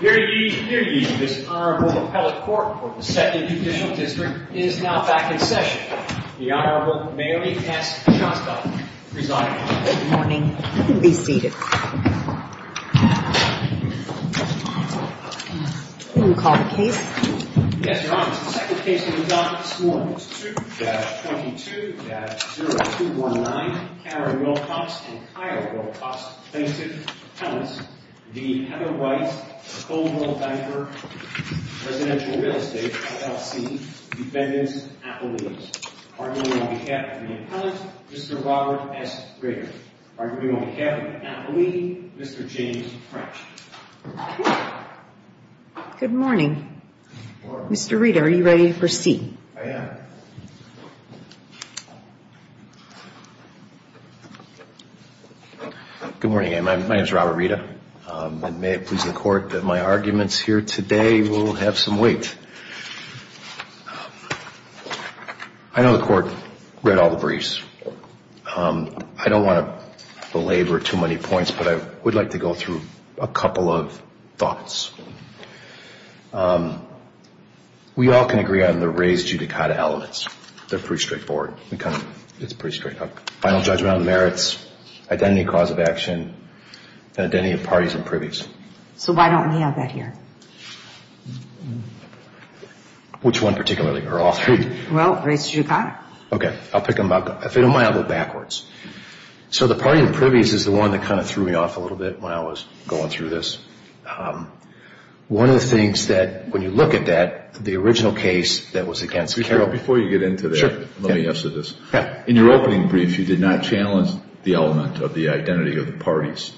Dear ye, dear ye, this Honorable Appellate Court for the 2nd Judicial District is now back in session. The Honorable Mayuri S. Shasta, Presiding Judge. Good morning. You can be seated. Will you call the case? Yes, Your Honor. It's the second case that we've got this morning. I move that 22-0219, Karen Wilcox and Kyle Wilcox, plaintiff's appellants, v. Heather White, Coldwell Banker Residential Real Estate, LLC, defendant's appellees, arguing on behalf of the appellant, Mr. Robert S. Grigger, arguing on behalf of the appellee, Mr. James French. Good morning. Good morning. I am. Good morning. My name is Robert Rita. May it please the Court that my arguments here today will have some weight. I know the Court read all the briefs. I don't want to belabor too many points, but I would like to go through a couple of thoughts. We all can agree on the res judicata elements. They're pretty straightforward. We kind of, it's pretty straight up. Final judgment on merits, identity cause of action, and identity of parties and privies. So why don't we have that here? Which one particularly? Or all three? Well, res judicata. Okay. I'll pick them up. If they don't mind, I'll go backwards. So the party and privies is the one that kind of threw me off a little bit when I was going through this. One of the things that, when you look at that, the original case that was against Carroll. Before you get into that, let me answer this. In your opening brief, you did not challenge the element of the identity of the parties.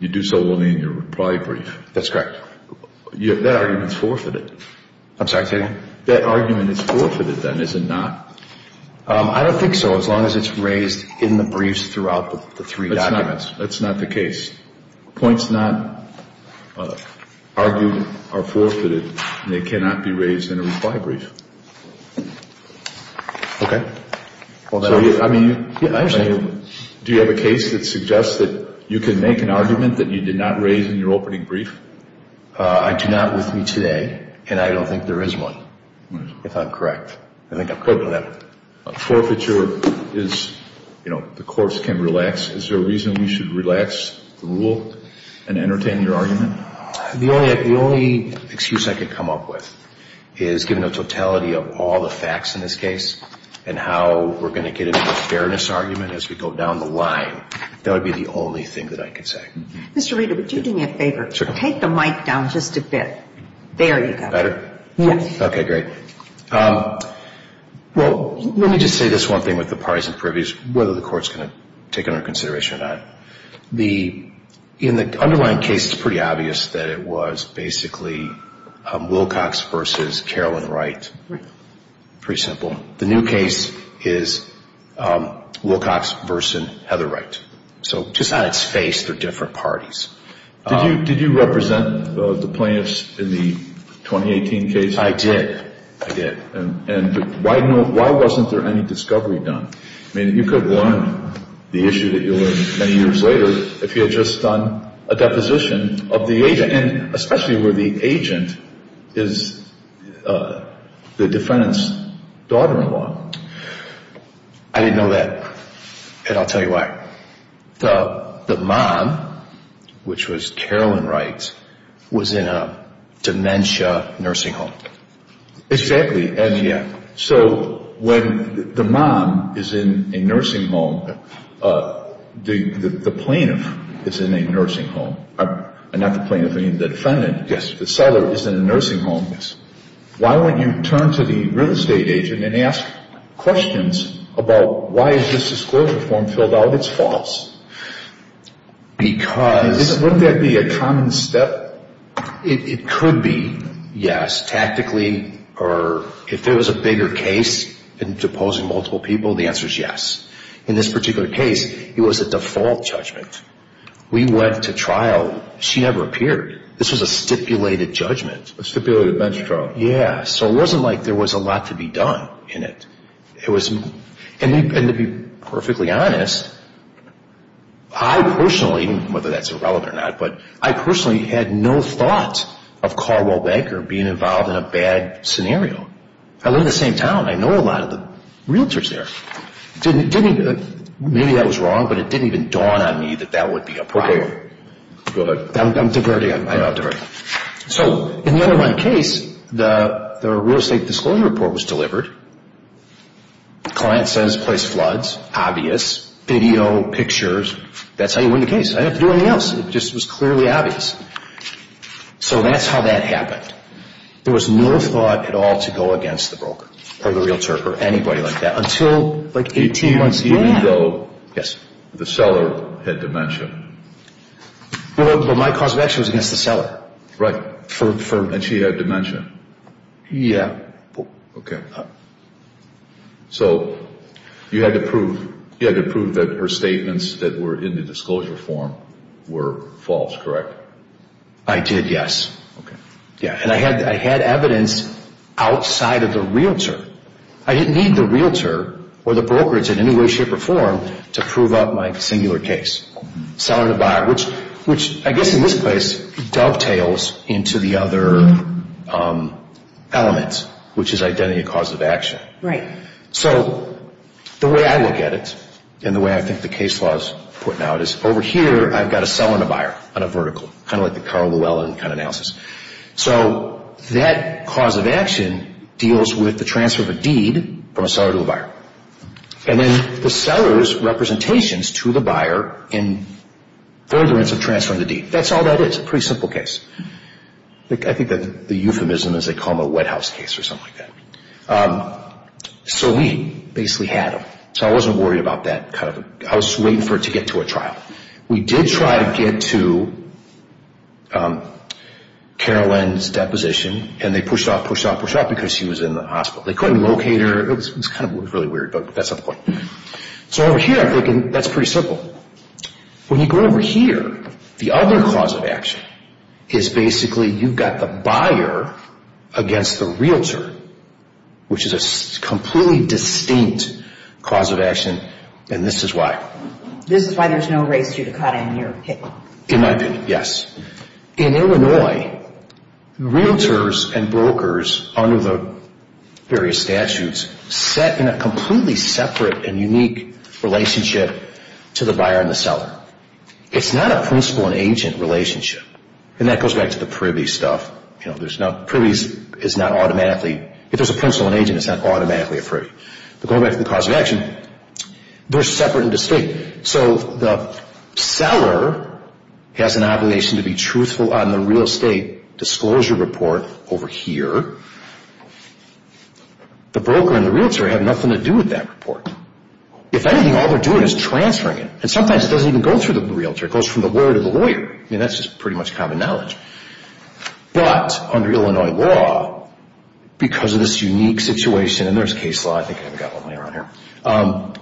You do so only in your reply brief. That's correct. That argument is forfeited. I'm sorry, say that again? That argument is forfeited then, is it not? I don't think so, as long as it's raised in the briefs throughout the three documents. That's not the case. Points not argued are forfeited, and they cannot be raised in a reply brief. Okay. I mean, do you have a case that suggests that you can make an argument that you did not raise in your opening brief? I do not with me today, and I don't think there is one, if I'm correct. I think I'm correct on that one. Forfeiture is, you know, the courts can relax. Is there a reason we should relax the rule and entertain your argument? The only excuse I could come up with is, given the totality of all the facts in this case and how we're going to get into a fairness argument as we go down the line, that would be the only thing that I could say. Mr. Reeder, would you do me a favor? Sure. Take the mic down just a bit. There you go. Better? Yes. Okay, great. Well, let me just say this one thing with the parties and privies, whether the court's going to take it under consideration or not. In the underlying case, it's pretty obvious that it was basically Wilcox versus Carolyn Wright. Pretty simple. The new case is Wilcox versus Heather Wright. So just on its face, they're different parties. Did you represent the plaintiffs in the 2018 case? I did. I did. And why wasn't there any discovery done? I mean, you could learn the issue that you learned many years later if you had just done a deposition of the agent, and especially where the agent is the defendant's daughter-in-law. I didn't know that, and I'll tell you why. The mom, which was Carolyn Wright, was in a dementia nursing home. Exactly. Yeah. So when the mom is in a nursing home, the plaintiff is in a nursing home, and not the plaintiff, meaning the defendant. Yes. The seller is in a nursing home. Yes. Why don't you turn to the real estate agent and ask questions about why is this disclosure form filled out? It's false. Because? Wouldn't that be a common step? It could be, yes, tactically, or if there was a bigger case in deposing multiple people, the answer is yes. In this particular case, it was a default judgment. We went to trial. She never appeared. This was a stipulated judgment. A stipulated bench trial. Yeah. So it wasn't like there was a lot to be done in it. And to be perfectly honest, I personally, whether that's irrelevant or not, but I personally had no thought of Carwell Banker being involved in a bad scenario. I live in the same town. I know a lot of the realtors there. Maybe that was wrong, but it didn't even dawn on me that that would be a problem. Go ahead. I'm diverting. I'm not diverting. So in the other one case, the real estate disclosure report was delivered. The client says place floods, obvious, video, pictures. That's how you win the case. I didn't have to do anything else. It just was clearly obvious. So that's how that happened. There was no thought at all to go against the broker or the realtor or anybody like that until like 18 months later. Even though the seller had dementia? Well, my cause of action was against the seller. Right. And she had dementia? Yeah. Okay. So you had to prove that her statements that were in the disclosure form were false, correct? I did, yes. And I had evidence outside of the realtor. I didn't need the realtor or the brokerage in any way, shape, or form to prove up my singular case. Seller to buyer, which I guess in this case dovetails into the other elements, which is identity and cause of action. Right. So the way I look at it and the way I think the case law is putting out is over here I've got a seller and a buyer on a vertical, kind of like the Carl Llewellyn kind of analysis. So that cause of action deals with the transfer of a deed from a seller to a buyer. And then the seller's representations to the buyer in furtherance of transferring the deed. That's all that is, a pretty simple case. I think the euphemism is they call them a wet house case or something like that. So we basically had them. So I wasn't worried about that kind of a – I was waiting for it to get to a trial. We did try to get to Carl Llewellyn's deposition, and they pushed off, pushed off, pushed off because she was in the hospital. They couldn't locate her. It was kind of really weird, but that's the point. So over here I'm thinking that's pretty simple. When you go over here, the other cause of action is basically you've got the buyer against the realtor, which is a completely distinct cause of action, and this is why. This is why there's no race judicata in your opinion. In my opinion, yes. In Illinois, realtors and brokers under the various statutes set in a completely separate and unique relationship to the buyer and the seller. It's not a principal and agent relationship, and that goes back to the privy stuff. Privies is not automatically – if there's a principal and agent, it's not automatically a privy. But going back to the cause of action, they're separate and distinct. So the seller has an obligation to be truthful on the real estate disclosure report over here. The broker and the realtor have nothing to do with that report. If anything, all they're doing is transferring it, and sometimes it doesn't even go through the realtor. It goes from the lawyer to the lawyer. I mean, that's just pretty much common knowledge. But under Illinois law, because of this unique situation – and there's case law. I think I've got one later on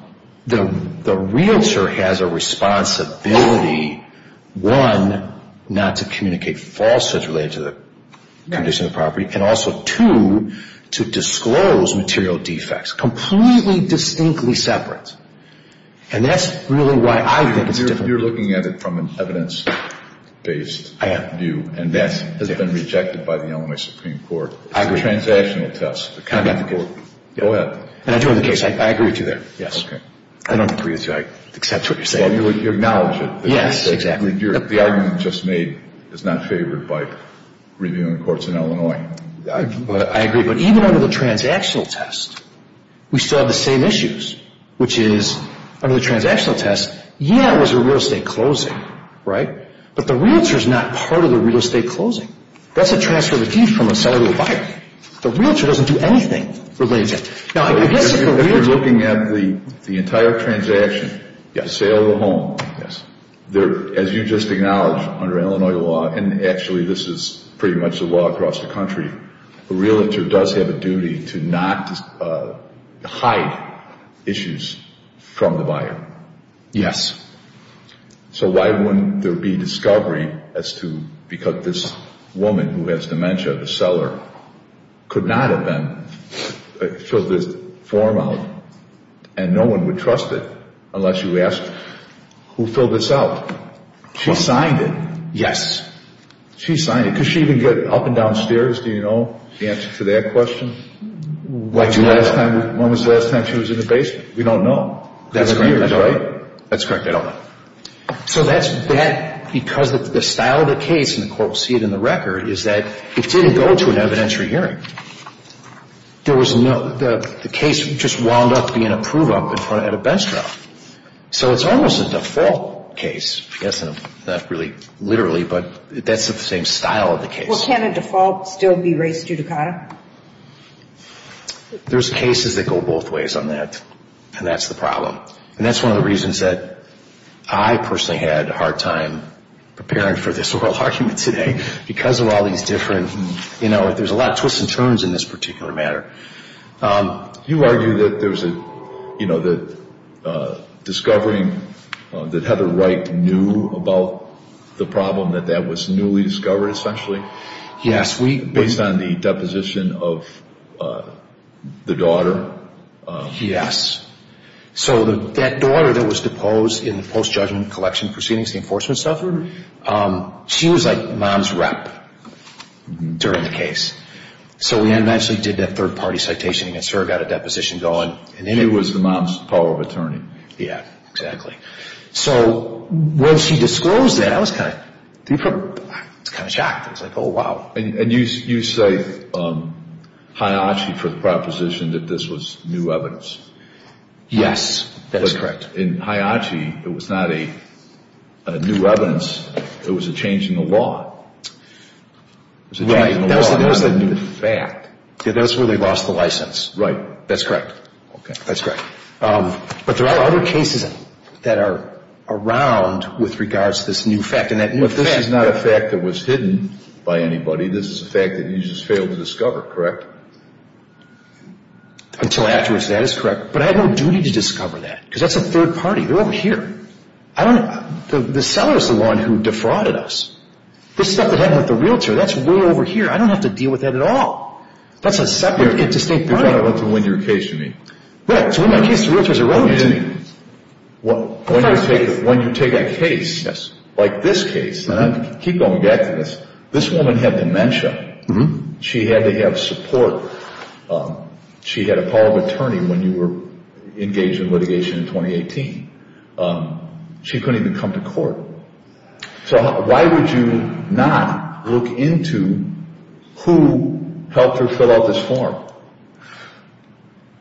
here. The realtor has a responsibility, one, not to communicate falsehoods related to the condition of the property, and also, two, to disclose material defects, completely distinctly separate. And that's really why I think it's different. You're looking at it from an evidence-based view, and that has been rejected by the Illinois Supreme Court. I agree. It's a transactional test. Go ahead. And I do have the case. I agree with you there, yes. Okay. I don't agree with you. I accept what you're saying. Well, you acknowledge it. Yes, exactly. The argument just made is not favored by reviewing courts in Illinois. I agree. But even under the transactional test, we still have the same issues, which is, under the transactional test, yeah, it was a real estate closing, right? But the realtor is not part of the real estate closing. That's a transfer of a fee from a seller to a buyer. The realtor doesn't do anything for the agent. Now, I guess if the realtor — If you're looking at the entire transaction, the sale of the home, as you just acknowledged, under Illinois law, and actually this is pretty much the law across the country, the realtor does have a duty to not hide issues from the buyer. Yes. So why wouldn't there be discovery as to — because this woman who has dementia, the seller, could not have then filled this form out, and no one would trust it unless you asked who filled this out. She signed it. Yes. She signed it. Could she even get up and downstairs, do you know, the answer to that question? When was the last time she was in the basement? We don't know. That's correct. We don't know, right? That's correct. I don't know. So that's bad because the style of the case, and the court will see it in the record, is that it didn't go to an evidentiary hearing. There was no — the case just wound up being a prove-up at a bench trial. So it's almost a default case, I guess, not really literally, but that's the same style of the case. Well, can a default still be raised judicata? There's cases that go both ways on that, and that's the problem. And that's one of the reasons that I personally had a hard time preparing for this oral argument today because of all these different — you know, there's a lot of twists and turns in this particular matter. You argue that there was a, you know, the discovering that Heather Wright knew about the problem, that that was newly discovered, essentially? Yes. Last week, based on the deposition of the daughter? Yes. So that daughter that was deposed in the post-judgment collection proceedings, the enforcement suffered, she was like mom's rep during the case. So we eventually did that third-party citation against her, got a deposition going. And it was the mom's power of attorney. Yeah, exactly. So when she disclosed that, I was kind of — I was kind of shocked. I was like, oh, wow. And you cite Hayachi for the proposition that this was new evidence? Yes, that is correct. In Hayachi, it was not a new evidence. It was a change in the law. Right. It was a new fact. Yeah, that's where they lost the license. Right. That's correct. Okay. That's correct. But there are other cases that are around with regards to this new fact. But this is not a fact that was hidden by anybody. This is a fact that you just failed to discover, correct? Until afterwards, that is correct. But I had no duty to discover that because that's a third party. They're over here. I don't — the seller is the one who defrauded us. This stuff that happened with the realtor, that's way over here. I don't have to deal with that at all. That's a separate — You're trying to win your case, you mean? Right. To win my case, the realtor is a rogue. When you take a case like this case, and I keep going back to this, this woman had dementia. She had to have support. She had a call of attorney when you were engaged in litigation in 2018. She couldn't even come to court. So why would you not look into who helped her fill out this form?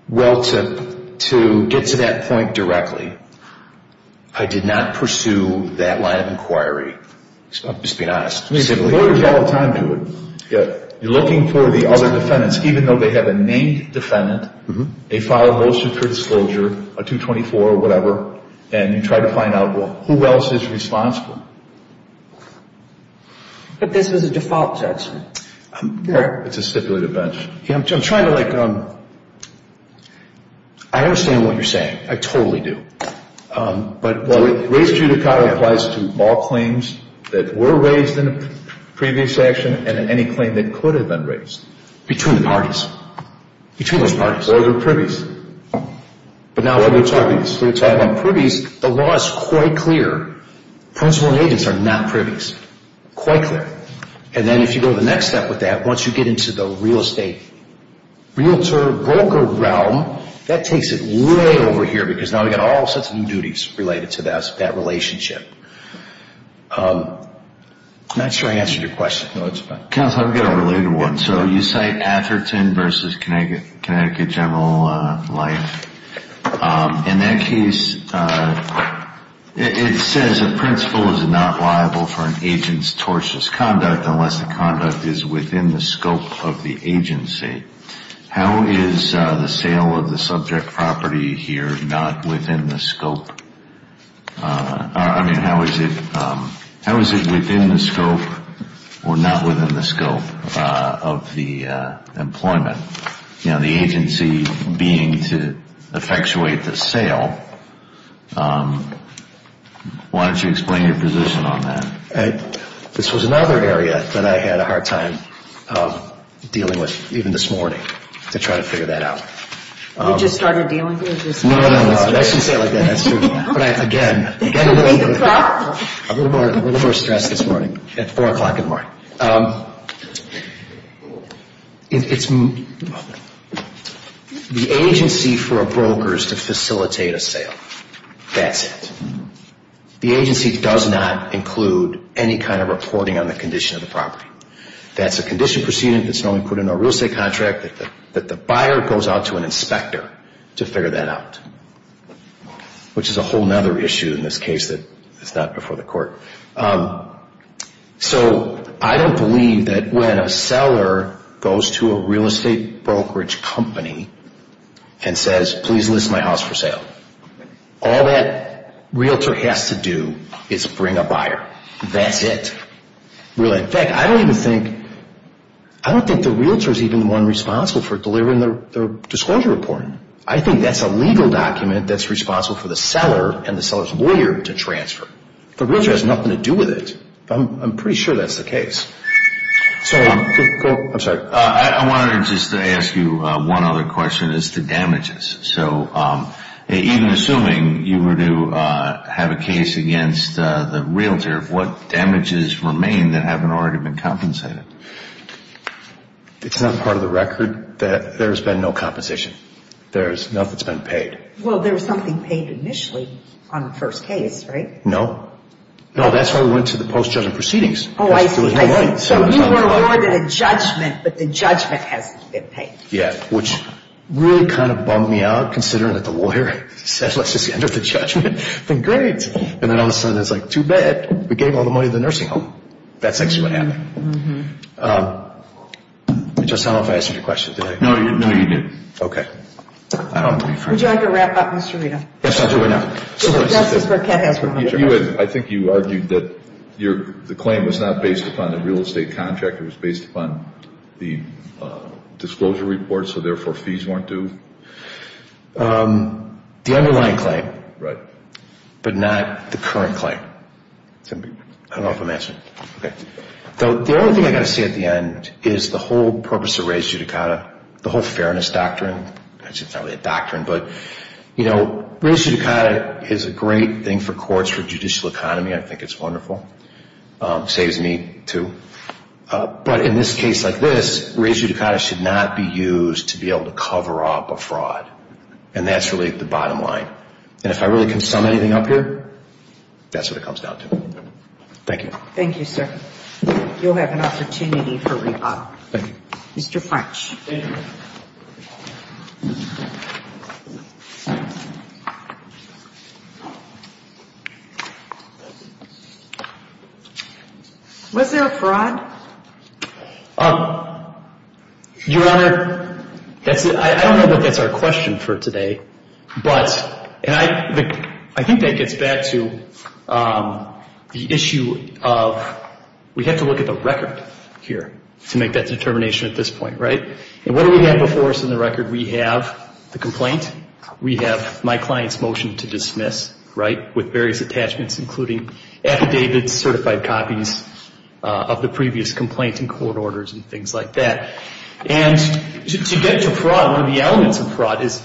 Well, to get to that point directly, I did not pursue that line of inquiry. I'm just being honest. I mean, lawyers all the time do it. You're looking for the other defendants, even though they have a named defendant, they filed most of her disclosure, a 224 or whatever, and you try to find out who else is responsible. But this was a default judgment. It's a stipulated bench. I'm trying to, like — I understand what you're saying. I totally do. Raised judicata applies to all claims that were raised in a previous action and any claim that could have been raised. Between the parties. Between those parties. Or they're privies. But now when you're talking about privies, the law is quite clear. Principal and agents are not privies. Quite clear. And then if you go the next step with that, once you get into the real estate, realtor, broker realm, that takes it way over here because now we've got all sorts of new duties related to that relationship. I'm not sure I answered your question. Counsel, I've got a related one. So you cite Atherton v. Connecticut General Life. In that case, it says a principal is not liable for an agent's tortious conduct unless the conduct is within the scope of the agency. How is the sale of the subject property here not within the scope? I mean, how is it within the scope or not within the scope of the employment? The agency being to effectuate the sale. Why don't you explain your position on that? This was another area that I had a hard time dealing with even this morning to try to figure that out. You just started dealing with this? No, no, no. I shouldn't say it like that. That's true. But again, a little more stress this morning at 4 o'clock in the morning. The agency for a broker is to facilitate a sale. That's it. The agency does not include any kind of reporting on the condition of the property. That's a condition proceeding that's normally put in a real estate contract that the buyer goes out to an inspector to figure that out, which is a whole other issue in this case that is not before the court. So I don't believe that when a seller goes to a real estate brokerage company and says, please list my house for sale, all that realtor has to do is bring a buyer. That's it. In fact, I don't think the realtor is even the one responsible for delivering their disclosure report. I think that's a legal document that's responsible for the seller and the seller's lawyer to transfer. The realtor has nothing to do with it. I'm pretty sure that's the case. I'm sorry. I wanted to just ask you one other question as to damages. So even assuming you were to have a case against the realtor, what damages remain that haven't already been compensated? It's not part of the record that there's been no compensation. Nothing's been paid. Well, there was something paid initially on the first case, right? No. No, that's why we went to the post-judgment proceedings. Oh, I see. So you were awarded a judgment, but the judgment hasn't been paid. Yeah, which really kind of bummed me out considering that the lawyer said, let's just end with the judgment. And then all of a sudden it's like, too bad. We gave all the money to the nursing home. That's actually what happened. I just don't know if I answered your question, did I? No, you didn't. Okay. Would you like to wrap up, Mr. Rita? Yes, I'll do it now. I think you argued that the claim was not based upon the real estate contract. It was based upon the disclosure report, so therefore fees weren't due? The underlying claim. Right. But not the current claim. I don't know if I'm answering. Okay. The only thing I've got to say at the end is the whole purpose of res judicata, the whole fairness doctrine. It's probably a doctrine, but, you know, res judicata is a great thing for courts for judicial economy. I think it's wonderful. Saves me, too. But in this case like this, res judicata should not be used to be able to cover up a fraud. And that's really the bottom line. And if I really can sum anything up here, that's what it comes down to. Thank you. Thank you, sir. You'll have an opportunity for rebuttal. Thank you. Mr. French. Thank you. Was there a fraud? Your Honor, I don't know that that's our question for today, but I think that gets back to the issue of we have to look at the record here to make that determination at this point, right? And what do we have before us in the record? We have the complaint. We have my client's motion to dismiss, right, with various attachments, including affidavits, certified copies of the previous complaint and court orders and things like that. And to get to fraud, one of the elements of fraud is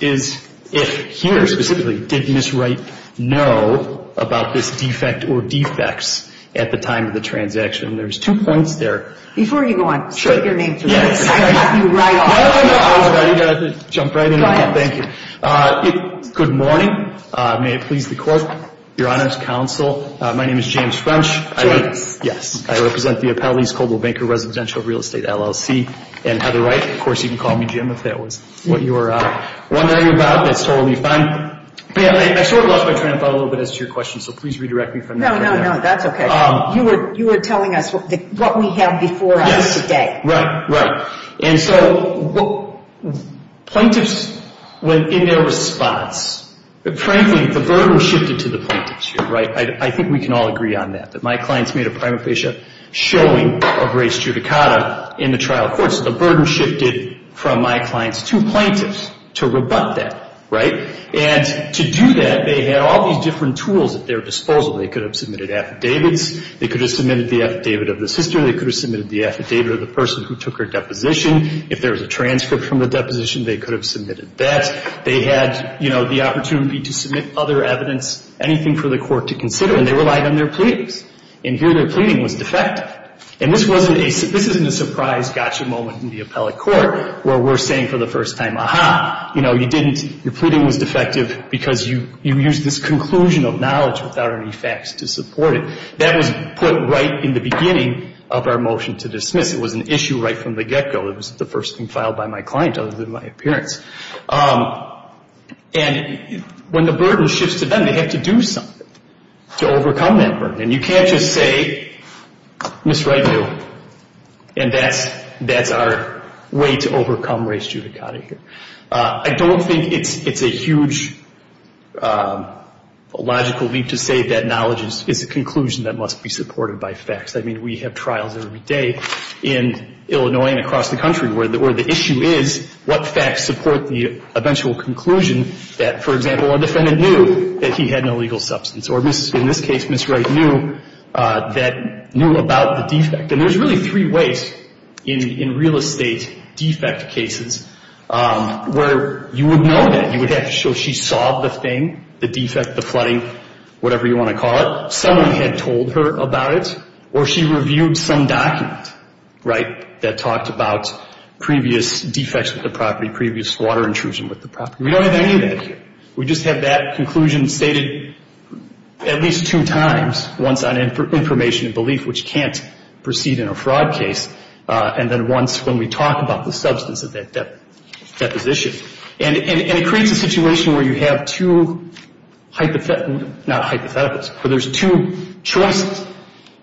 if here specifically, did Ms. Wright know about this defect or defects at the time of the transaction? There's two points there. Before you go on, state your name, please. Yes, I got you right on time. I was about to jump right in. Go ahead. Thank you. Good morning. May it please the Court, Your Honor's counsel. My name is James French. James. Yes. I represent the Appellees Coldwell Banker Residential Real Estate LLC and Heather Wright. Of course, you can call me Jim if that was what you were wondering about. That's totally fine. I sort of lost my train of thought a little bit as to your question, so please redirect me from there. No, no, no. That's okay. You were telling us what we have before us today. Yes. Right, right. And so plaintiffs went in their response. Frankly, the burden shifted to the plaintiffs here, right? I think we can all agree on that, that my clients made a prima facie showing of race judicata in the trial court, so the burden shifted from my clients to plaintiffs to rebut that, right? And to do that, they had all these different tools at their disposal. They could have submitted affidavits. They could have submitted the affidavit of the sister. They could have submitted the affidavit of the person who took her deposition. If there was a transcript from the deposition, they could have submitted that. They had, you know, the opportunity to submit other evidence, anything for the court to consider, and they relied on their pleadings. And here their pleading was defective. And this wasn't a surprise gotcha moment in the appellate court where we're saying for the first time, you know, you didn't, your pleading was defective because you used this conclusion of knowledge without any facts to support it. That was put right in the beginning of our motion to dismiss. It was an issue right from the get-go. It was the first thing filed by my client other than my appearance. And when the burden shifts to them, they have to do something to overcome that burden. And you can't just say, Ms. Wright knew. And that's our way to overcome res judicata here. I don't think it's a huge logical leap to say that knowledge is a conclusion that must be supported by facts. I mean, we have trials every day in Illinois and across the country where the issue is what facts support the eventual conclusion that, for example, a defendant knew that he had an illegal substance. Or in this case, Ms. Wright knew that, knew about the defect. And there's really three ways in real estate defect cases where you would know that. You would have to show she saw the thing, the defect, the flooding, whatever you want to call it. Someone had told her about it. Or she reviewed some document, right, that talked about previous defects with the property, previous water intrusion with the property. We don't have any of that here. We just have that conclusion stated at least two times, once on information and belief, which can't proceed in a fraud case, and then once when we talk about the substance of that deposition. And it creates a situation where you have two hypotheticals, not hypotheticals, but there's two choices.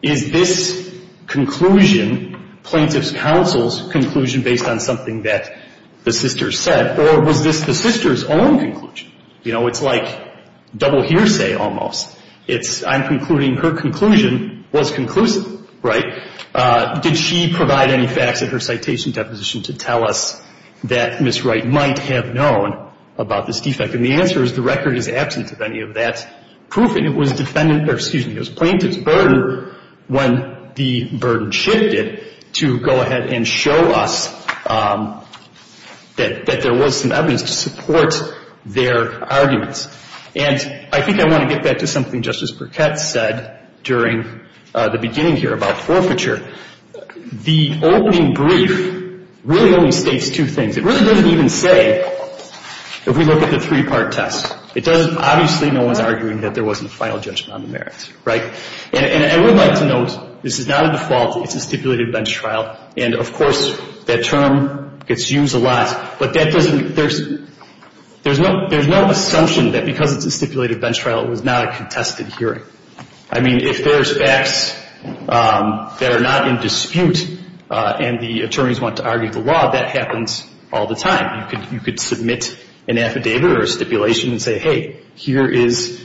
Is this conclusion plaintiff's counsel's conclusion based on something that the sister said? Or was this the sister's own conclusion? You know, it's like double hearsay almost. It's I'm concluding her conclusion was conclusive, right? Did she provide any facts in her citation deposition to tell us that Ms. Wright might have known about this defect? And the answer is the record is absent of any of that proof, and it was plaintiff's burden when the burden shifted to go ahead and show us that there was some evidence to support their arguments. And I think I want to get back to something Justice Burkett said during the beginning here about forfeiture. The opening brief really only states two things. It really doesn't even say if we look at the three-part test. It doesn't – obviously no one's arguing that there wasn't a final judgment on the merits, right? And I would like to note this is not a default. It's a stipulated bench trial, and, of course, that term gets used a lot. But that doesn't – there's no assumption that because it's a stipulated bench trial it was not a contested hearing. I mean, if there's facts that are not in dispute and the attorneys want to argue the law, that happens all the time. You could submit an affidavit or a stipulation and say, hey, here is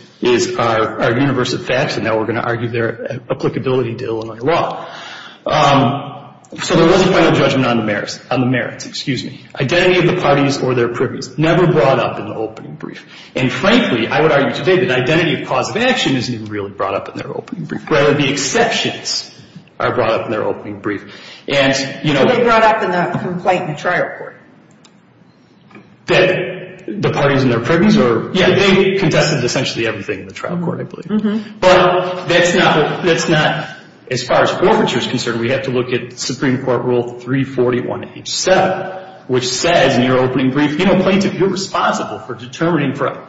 our universe of facts, and now we're going to argue their applicability to Illinois law. So there was a final judgment on the merits. Identity of the parties or their privies never brought up in the opening brief. And, frankly, I would argue today that identity of cause of action isn't even really brought up in their opening brief. Rather, the exceptions are brought up in their opening brief. And, you know – So they brought up in that complaint in the trial court? That the parties and their privies are – yeah, they contested essentially everything in the trial court, I believe. But that's not – that's not – as far as forfeiture is concerned, we have to look at Supreme Court Rule 341H7, which says in your opening brief, you know, plaintiff, you're responsible for determining – for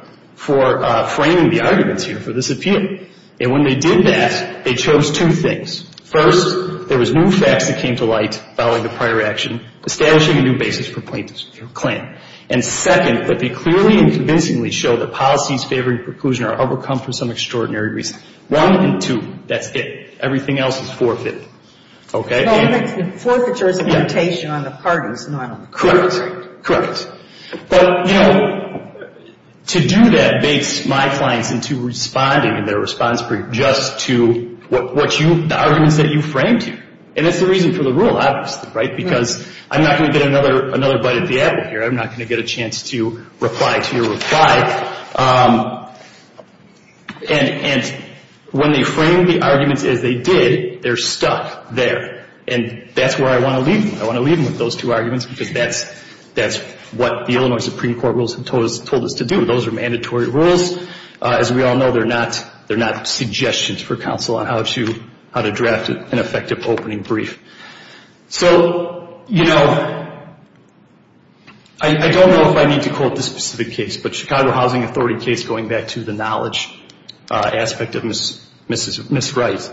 framing the arguments here for this appeal. And when they did that, they chose two things. First, there was new facts that came to light following the prior action establishing a new basis for plaintiff's claim. And second, that they clearly and convincingly show that policies favoring preclusion are overcome for some extraordinary reason. One and two. That's it. Everything else is forfeit. Okay? Well, I think forfeiture is a limitation on the parties normally. Correct. Correct. But, you know, to do that bakes my clients into responding in their response brief just to what you – the arguments that you framed here. And that's the reason for the rule, obviously, right? Because I'm not going to get another bite at the apple here. I'm not going to get a chance to reply to your reply. And when they frame the arguments as they did, they're stuck there. And that's where I want to leave them. I want to leave them with those two arguments because that's what the Illinois Supreme Court rules have told us to do. Those are mandatory rules. As we all know, they're not suggestions for counsel on how to draft an effective opening brief. So, you know, I don't know if I need to quote this specific case, but Chicago Housing Authority case going back to the knowledge aspect of Ms. Wright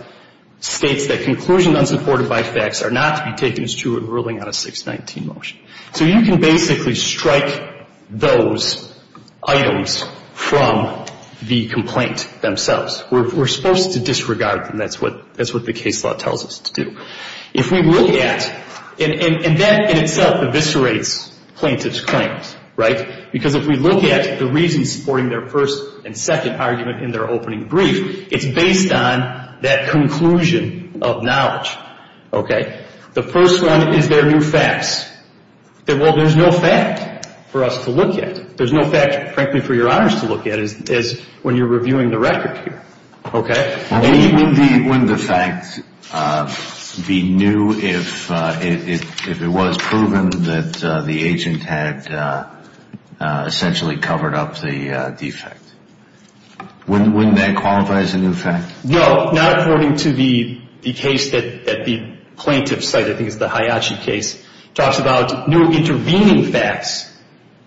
states that conclusion unsupported by facts are not to be taken as true in ruling on a 619 motion. So you can basically strike those items from the complaint themselves. We're supposed to disregard them. That's what the case law tells us to do. If we look at, and that in itself eviscerates plaintiff's claims, right? Because if we look at the reasons supporting their first and second argument in their opening brief, it's based on that conclusion of knowledge, okay? The first one is there are no facts. Well, there's no fact for us to look at. There's no fact, frankly, for your honors to look at when you're reviewing the record here, okay? Wouldn't the fact be new if it was proven that the agent had essentially covered up the defect? Wouldn't that qualify as a new fact? No. Not according to the case that the plaintiff cited, I think it's the Hayashi case, talks about no intervening facts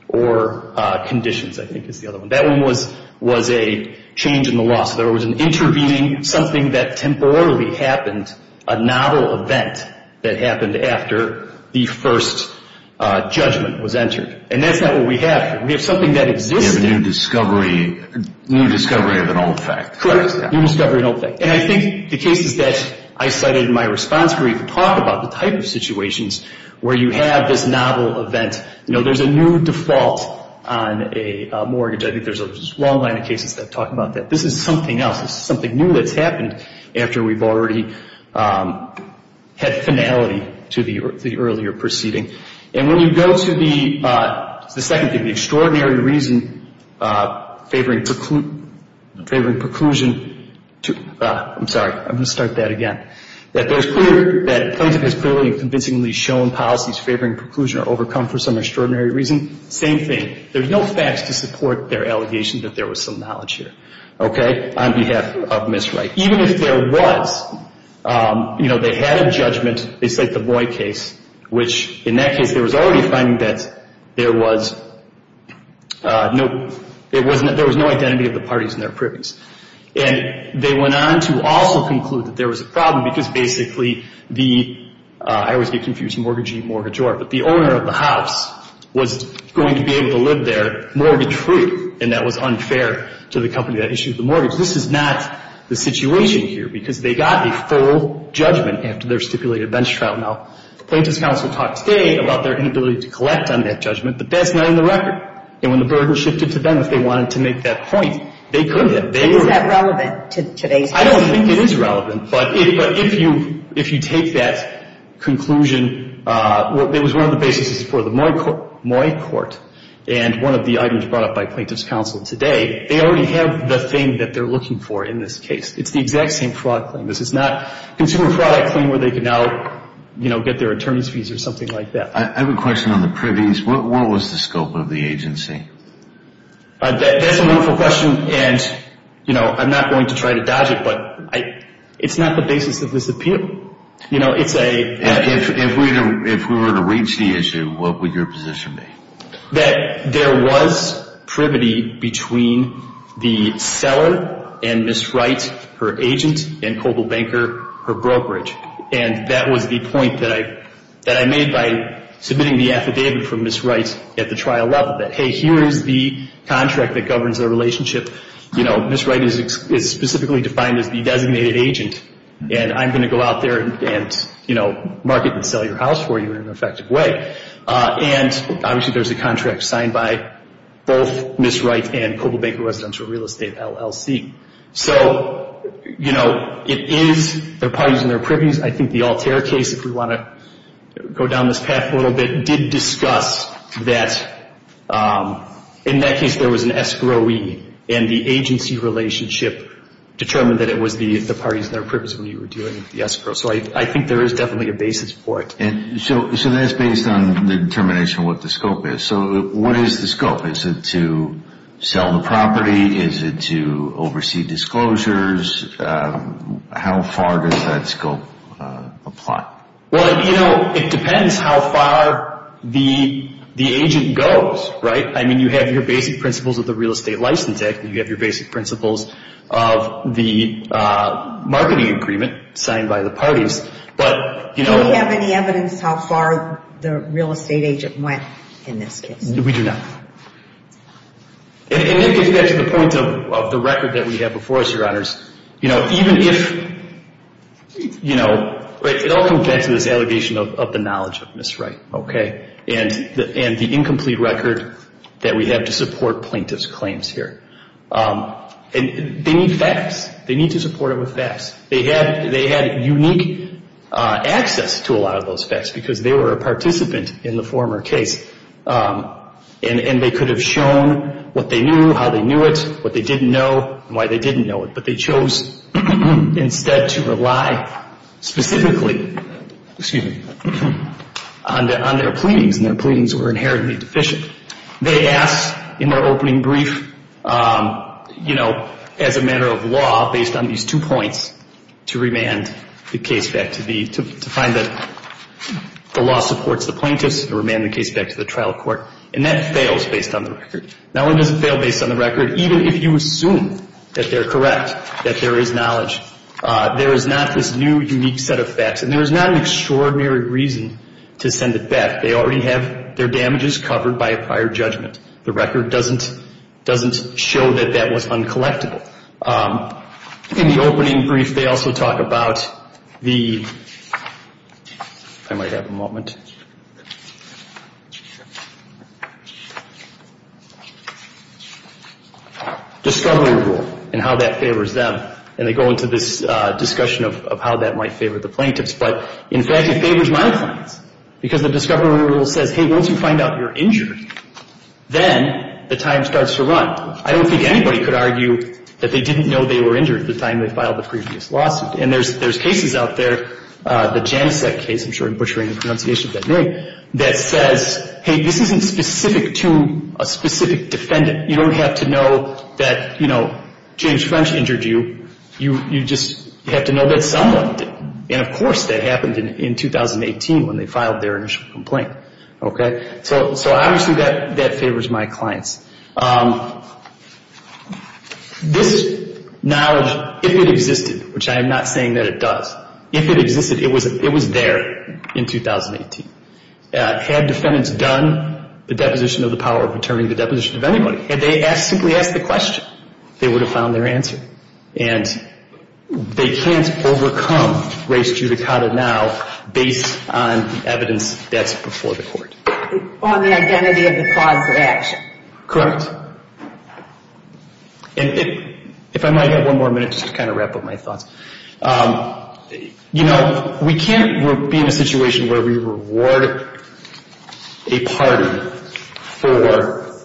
or conditions, I think is the other one. That one was a change in the law. So there was an intervening, something that temporarily happened, a novel event that happened after the first judgment was entered. And that's not what we have here. We have something that existed. You have a new discovery of an old fact. Correct. New discovery of an old fact. And I think the cases that I cited in my response brief talk about the type of situations where you have this novel event. You know, there's a new default on a mortgage. I think there's a long line of cases that talk about that. This is something else. This is something new that's happened after we've already had finality to the earlier proceeding. And when you go to the second thing, the extraordinary reason favoring preclusion to – I'm sorry. I'm going to start that again. That the plaintiff has clearly and convincingly shown policies favoring preclusion are overcome for some extraordinary reason. Same thing. There's no facts to support their allegation that there was some knowledge here, okay, on behalf of Ms. Wright. Even if there was, you know, they had a judgment. They cite the Boyd case, which in that case there was already a finding that there was no – there was no identity of the parties in their privies. And they went on to also conclude that there was a problem because basically the – I always get confused with mortgagee and mortgagor. But the owner of the house was going to be able to live there mortgage-free. And that was unfair to the company that issued the mortgage. This is not the situation here because they got a full judgment after their stipulated bench trial. Now, the Plaintiff's counsel talked today about their inability to collect on that judgment. But that's not in the record. And when the burden shifted to them, if they wanted to make that point, they could have. Is that relevant to today's case? I don't think it is relevant. But if you take that conclusion, it was one of the basis for the Moy court. And one of the items brought up by Plaintiff's counsel today, they already have the thing that they're looking for in this case. It's the exact same fraud claim. This is not consumer fraud claim where they can now, you know, get their attorney's fees or something like that. I have a question on the privies. What was the scope of the agency? That's a wonderful question. And, you know, I'm not going to try to dodge it, but it's not the basis of this appeal. You know, it's a. If we were to reach the issue, what would your position be? That there was privity between the seller and Ms. Wright, her agent, and Coble Banker, her brokerage. And that was the point that I made by submitting the affidavit from Ms. Wright at the trial level. That, hey, here is the contract that governs their relationship. You know, Ms. Wright is specifically defined as the designated agent, and I'm going to go out there and, you know, market and sell your house for you in an effective way. And obviously there's a contract signed by both Ms. Wright and Coble Banker Residential Real Estate LLC. So, you know, it is their parties and their privies. I think the Altair case, if we want to go down this path a little bit, did discuss that. In that case, there was an escrowee, and the agency relationship determined that it was the parties and their privies when you were dealing with the escrow. So I think there is definitely a basis for it. And so that's based on the determination of what the scope is. So what is the scope? Is it to sell the property? Is it to oversee disclosures? How far does that scope apply? Well, you know, it depends how far the agent goes. Right? I mean, you have your basic principles of the real estate license act, and you have your basic principles of the marketing agreement signed by the parties. But, you know. Do we have any evidence how far the real estate agent went in this case? We do not. And it gets back to the point of the record that we have before us, Your Honors. You know, even if, you know, it all comes back to this allegation of the knowledge of misright. Okay? And the incomplete record that we have to support plaintiff's claims here. And they need facts. They need to support it with facts. They had unique access to a lot of those facts because they were a participant in the former case. And they could have shown what they knew, how they knew it, what they didn't know, and why they didn't know it. But they chose instead to rely specifically on their pleadings. And their pleadings were inherently deficient. They asked in their opening brief, you know, as a matter of law, based on these two points, to remand the case back to the, to find that the law supports the plaintiffs, to remand the case back to the trial court. And that fails based on the record. That one doesn't fail based on the record, even if you assume that they're correct, that there is knowledge. There is not this new, unique set of facts. And there is not an extraordinary reason to send it back. They already have their damages covered by a prior judgment. The record doesn't show that that was uncollectible. In the opening brief, they also talk about the discovery rule and how that favors them. And they go into this discussion of how that might favor the plaintiffs. But, in fact, it favors my clients because the discovery rule says, hey, once you find out you're injured, then the time starts to run. I don't think anybody could argue that they didn't know they were injured at the time they filed the previous lawsuit. And there's cases out there, the Janicek case, I'm sure I'm butchering the pronunciation of that name, that says, hey, this isn't specific to a specific defendant. You don't have to know that, you know, James French injured you. You just have to know that someone did. And, of course, that happened in 2018 when they filed their initial complaint. Okay? So, obviously, that favors my clients. This knowledge, if it existed, which I am not saying that it does, if it existed, it was there in 2018. Had defendants done the deposition of the power of attorney, the deposition of anybody, had they simply asked the question, they would have found their answer. And they can't overcome race judicata now based on evidence that's before the court. On the identity of the cause of action. Correct. If I might have one more minute just to kind of wrap up my thoughts. You know, we can't be in a situation where we reward a party for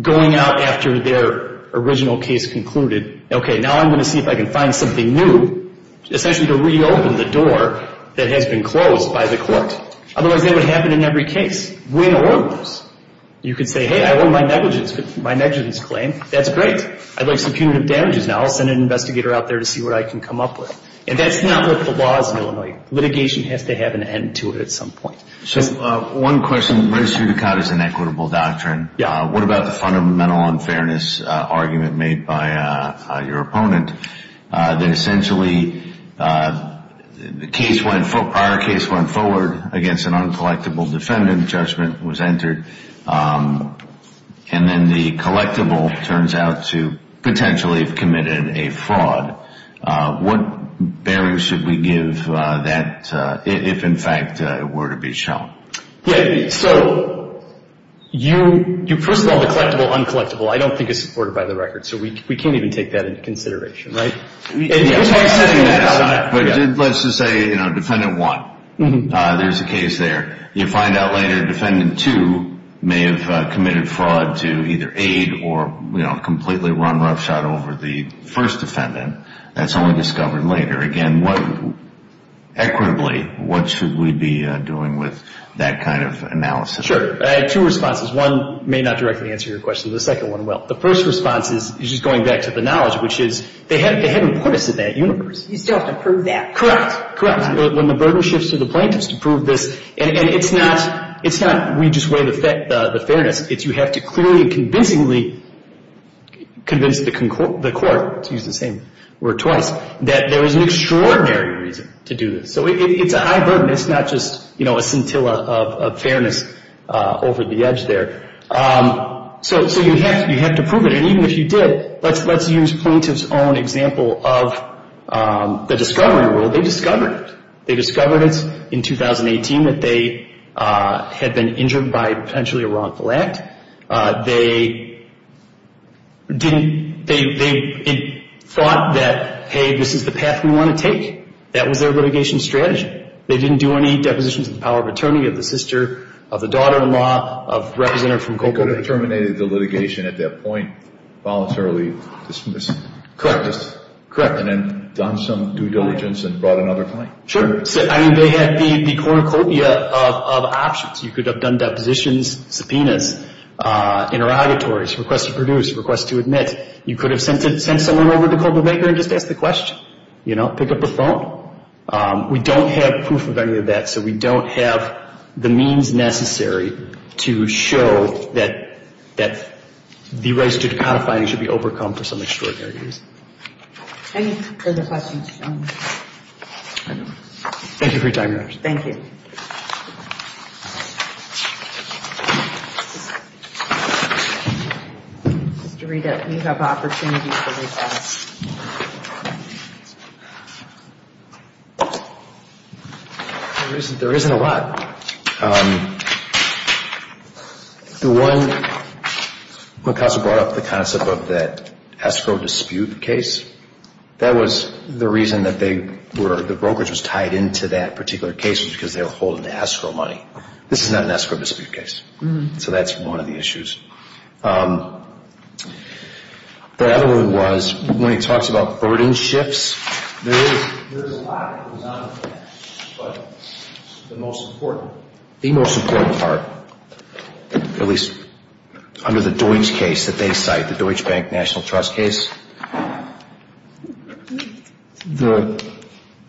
going out after their original case concluded, okay, now I'm going to see if I can find something new, essentially to reopen the door that has been closed by the court. Otherwise, that would happen in every case. Win or lose. You could say, hey, I won my negligence claim. That's great. I'd like some punitive damages now. I'll send an investigator out there to see what I can come up with. And that's not what the law is in Illinois. Litigation has to have an end to it at some point. So one question, race judicata is an equitable doctrine. What about the fundamental unfairness argument made by your opponent, that essentially the prior case went forward against an uncollectible defendant, a presumptive judgment was entered, and then the collectible turns out to potentially have committed a fraud. What bearing should we give that if, in fact, it were to be shown? Yeah, so you first of all, the collectible, uncollectible, I don't think is supported by the record. So we can't even take that into consideration, right? But let's just say, you know, defendant one, there's a case there. You find out later defendant two may have committed fraud to either aid or, you know, completely run roughshod over the first defendant. That's only discovered later. Again, equitably, what should we be doing with that kind of analysis? Sure. I have two responses. One may not directly answer your question. The second one will. The first response is just going back to the knowledge, which is they haven't put us in that universe. You still have to prove that. Correct, correct. When the burden shifts to the plaintiffs to prove this, and it's not we just weigh the fairness. It's you have to clearly and convincingly convince the court, to use the same word twice, that there is an extraordinary reason to do this. So it's a high burden. It's not just, you know, a scintilla of fairness over the edge there. So you have to prove it. And even if you did, let's use plaintiff's own example of the discovery rule. They discovered it. They discovered it in 2018 that they had been injured by potentially a wrongful act. They thought that, hey, this is the path we want to take. That was their litigation strategy. They didn't do any depositions of the power of attorney, of the sister, of the daughter-in-law, of representative from Copenhagen. They could have terminated the litigation at that point, voluntarily dismissed. Correct, correct. And then done some due diligence and brought another claim. Sure. I mean, they had the cornucopia of options. You could have done depositions, subpoenas, interrogatories, request to produce, request to admit. You could have sent someone over to Copenhagen and just asked the question, you know, pick up the phone. We don't have proof of any of that. So we don't have the means necessary to show that the rights due to codifying should be overcome for some extraordinary reason. Any further questions? Thank you for your time, Your Honor. Thank you. Thank you. Mr. Rita, you have opportunity for recess. There isn't a lot. The one, when counsel brought up the concept of that escrow dispute case, that was the reason that they were, the brokerage was tied into that particular case, was because they were holding the escrow money. This is not an escrow dispute case. So that's one of the issues. The other one was, when he talks about burden shifts, there is a lot that goes on. But the most important, the most important part, at least under the Deutsch case that they cite, the Deutsch Bank National Trust case, the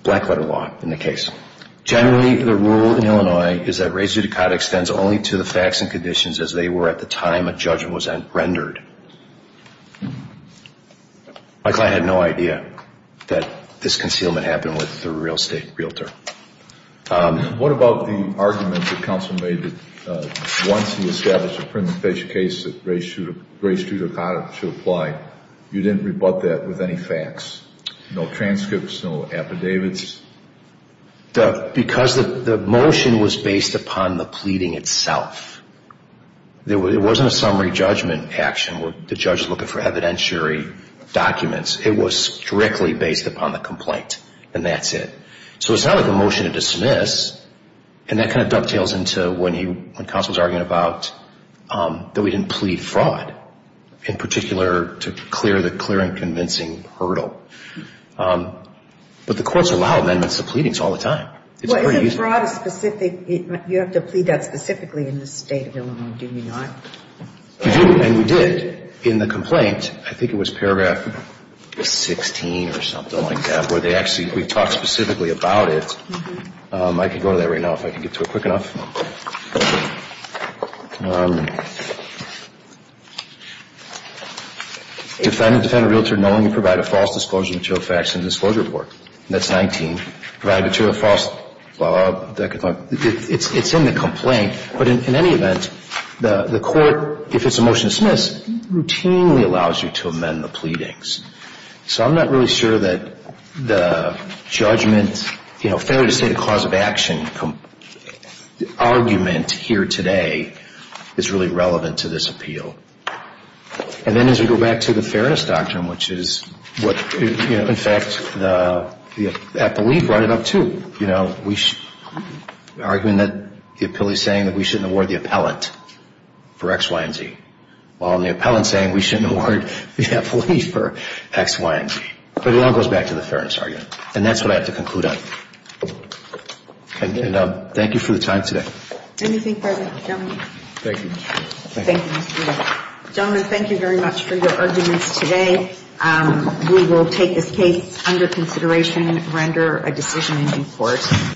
black letter law in the case, generally the rule in Illinois is that rights due to cod extends only to the facts and conditions as they were at the time a judgment was rendered. My client had no idea that this concealment happened with the real estate realtor. What about the argument that counsel made that once he established a preemptive case that rights due to cod should apply, you didn't rebut that with any facts, no transcripts, no affidavits? Because the motion was based upon the pleading itself. It wasn't a summary judgment action where the judge is looking for evidentiary documents. It was strictly based upon the complaint, and that's it. So it's not like a motion to dismiss. And that kind of dovetails into when counsel was arguing about that we didn't plead fraud, in particular to clear the clear and convincing hurdle. But the courts allow amendments to pleadings all the time. Well, isn't fraud a specific, you have to plead that specifically in the state of Illinois, do you not? You do, and you did. In the complaint, I think it was paragraph 16 or something like that, where they actually, we've talked specifically about it. I can go to that right now if I can get to it quick enough. Defendant, defendant, realtor, knowing you provide a false disclosure material facts in the disclosure report. That's 19. Provided material false, blah, blah, blah. It's in the complaint. But in any event, the court, if it's a motion to dismiss, routinely allows you to amend the pleadings. So I'm not really sure that the judgment, you know, fair to say the cause of action argument here today is really relevant to this appeal. And then as we go back to the fairness doctrine, which is what, you know, in fact, the appellee brought it up too. You know, the argument that the appellee is saying that we shouldn't award the appellant for X, Y, and Z. While the appellant is saying we shouldn't award the appellee for X, Y, and Z. But it all goes back to the fairness argument. And that's what I have to conclude on. And thank you for the time today. Anything further, gentlemen? Thank you. Gentlemen, thank you very much for your arguments today. We will take this case under consideration and render a decision in due course.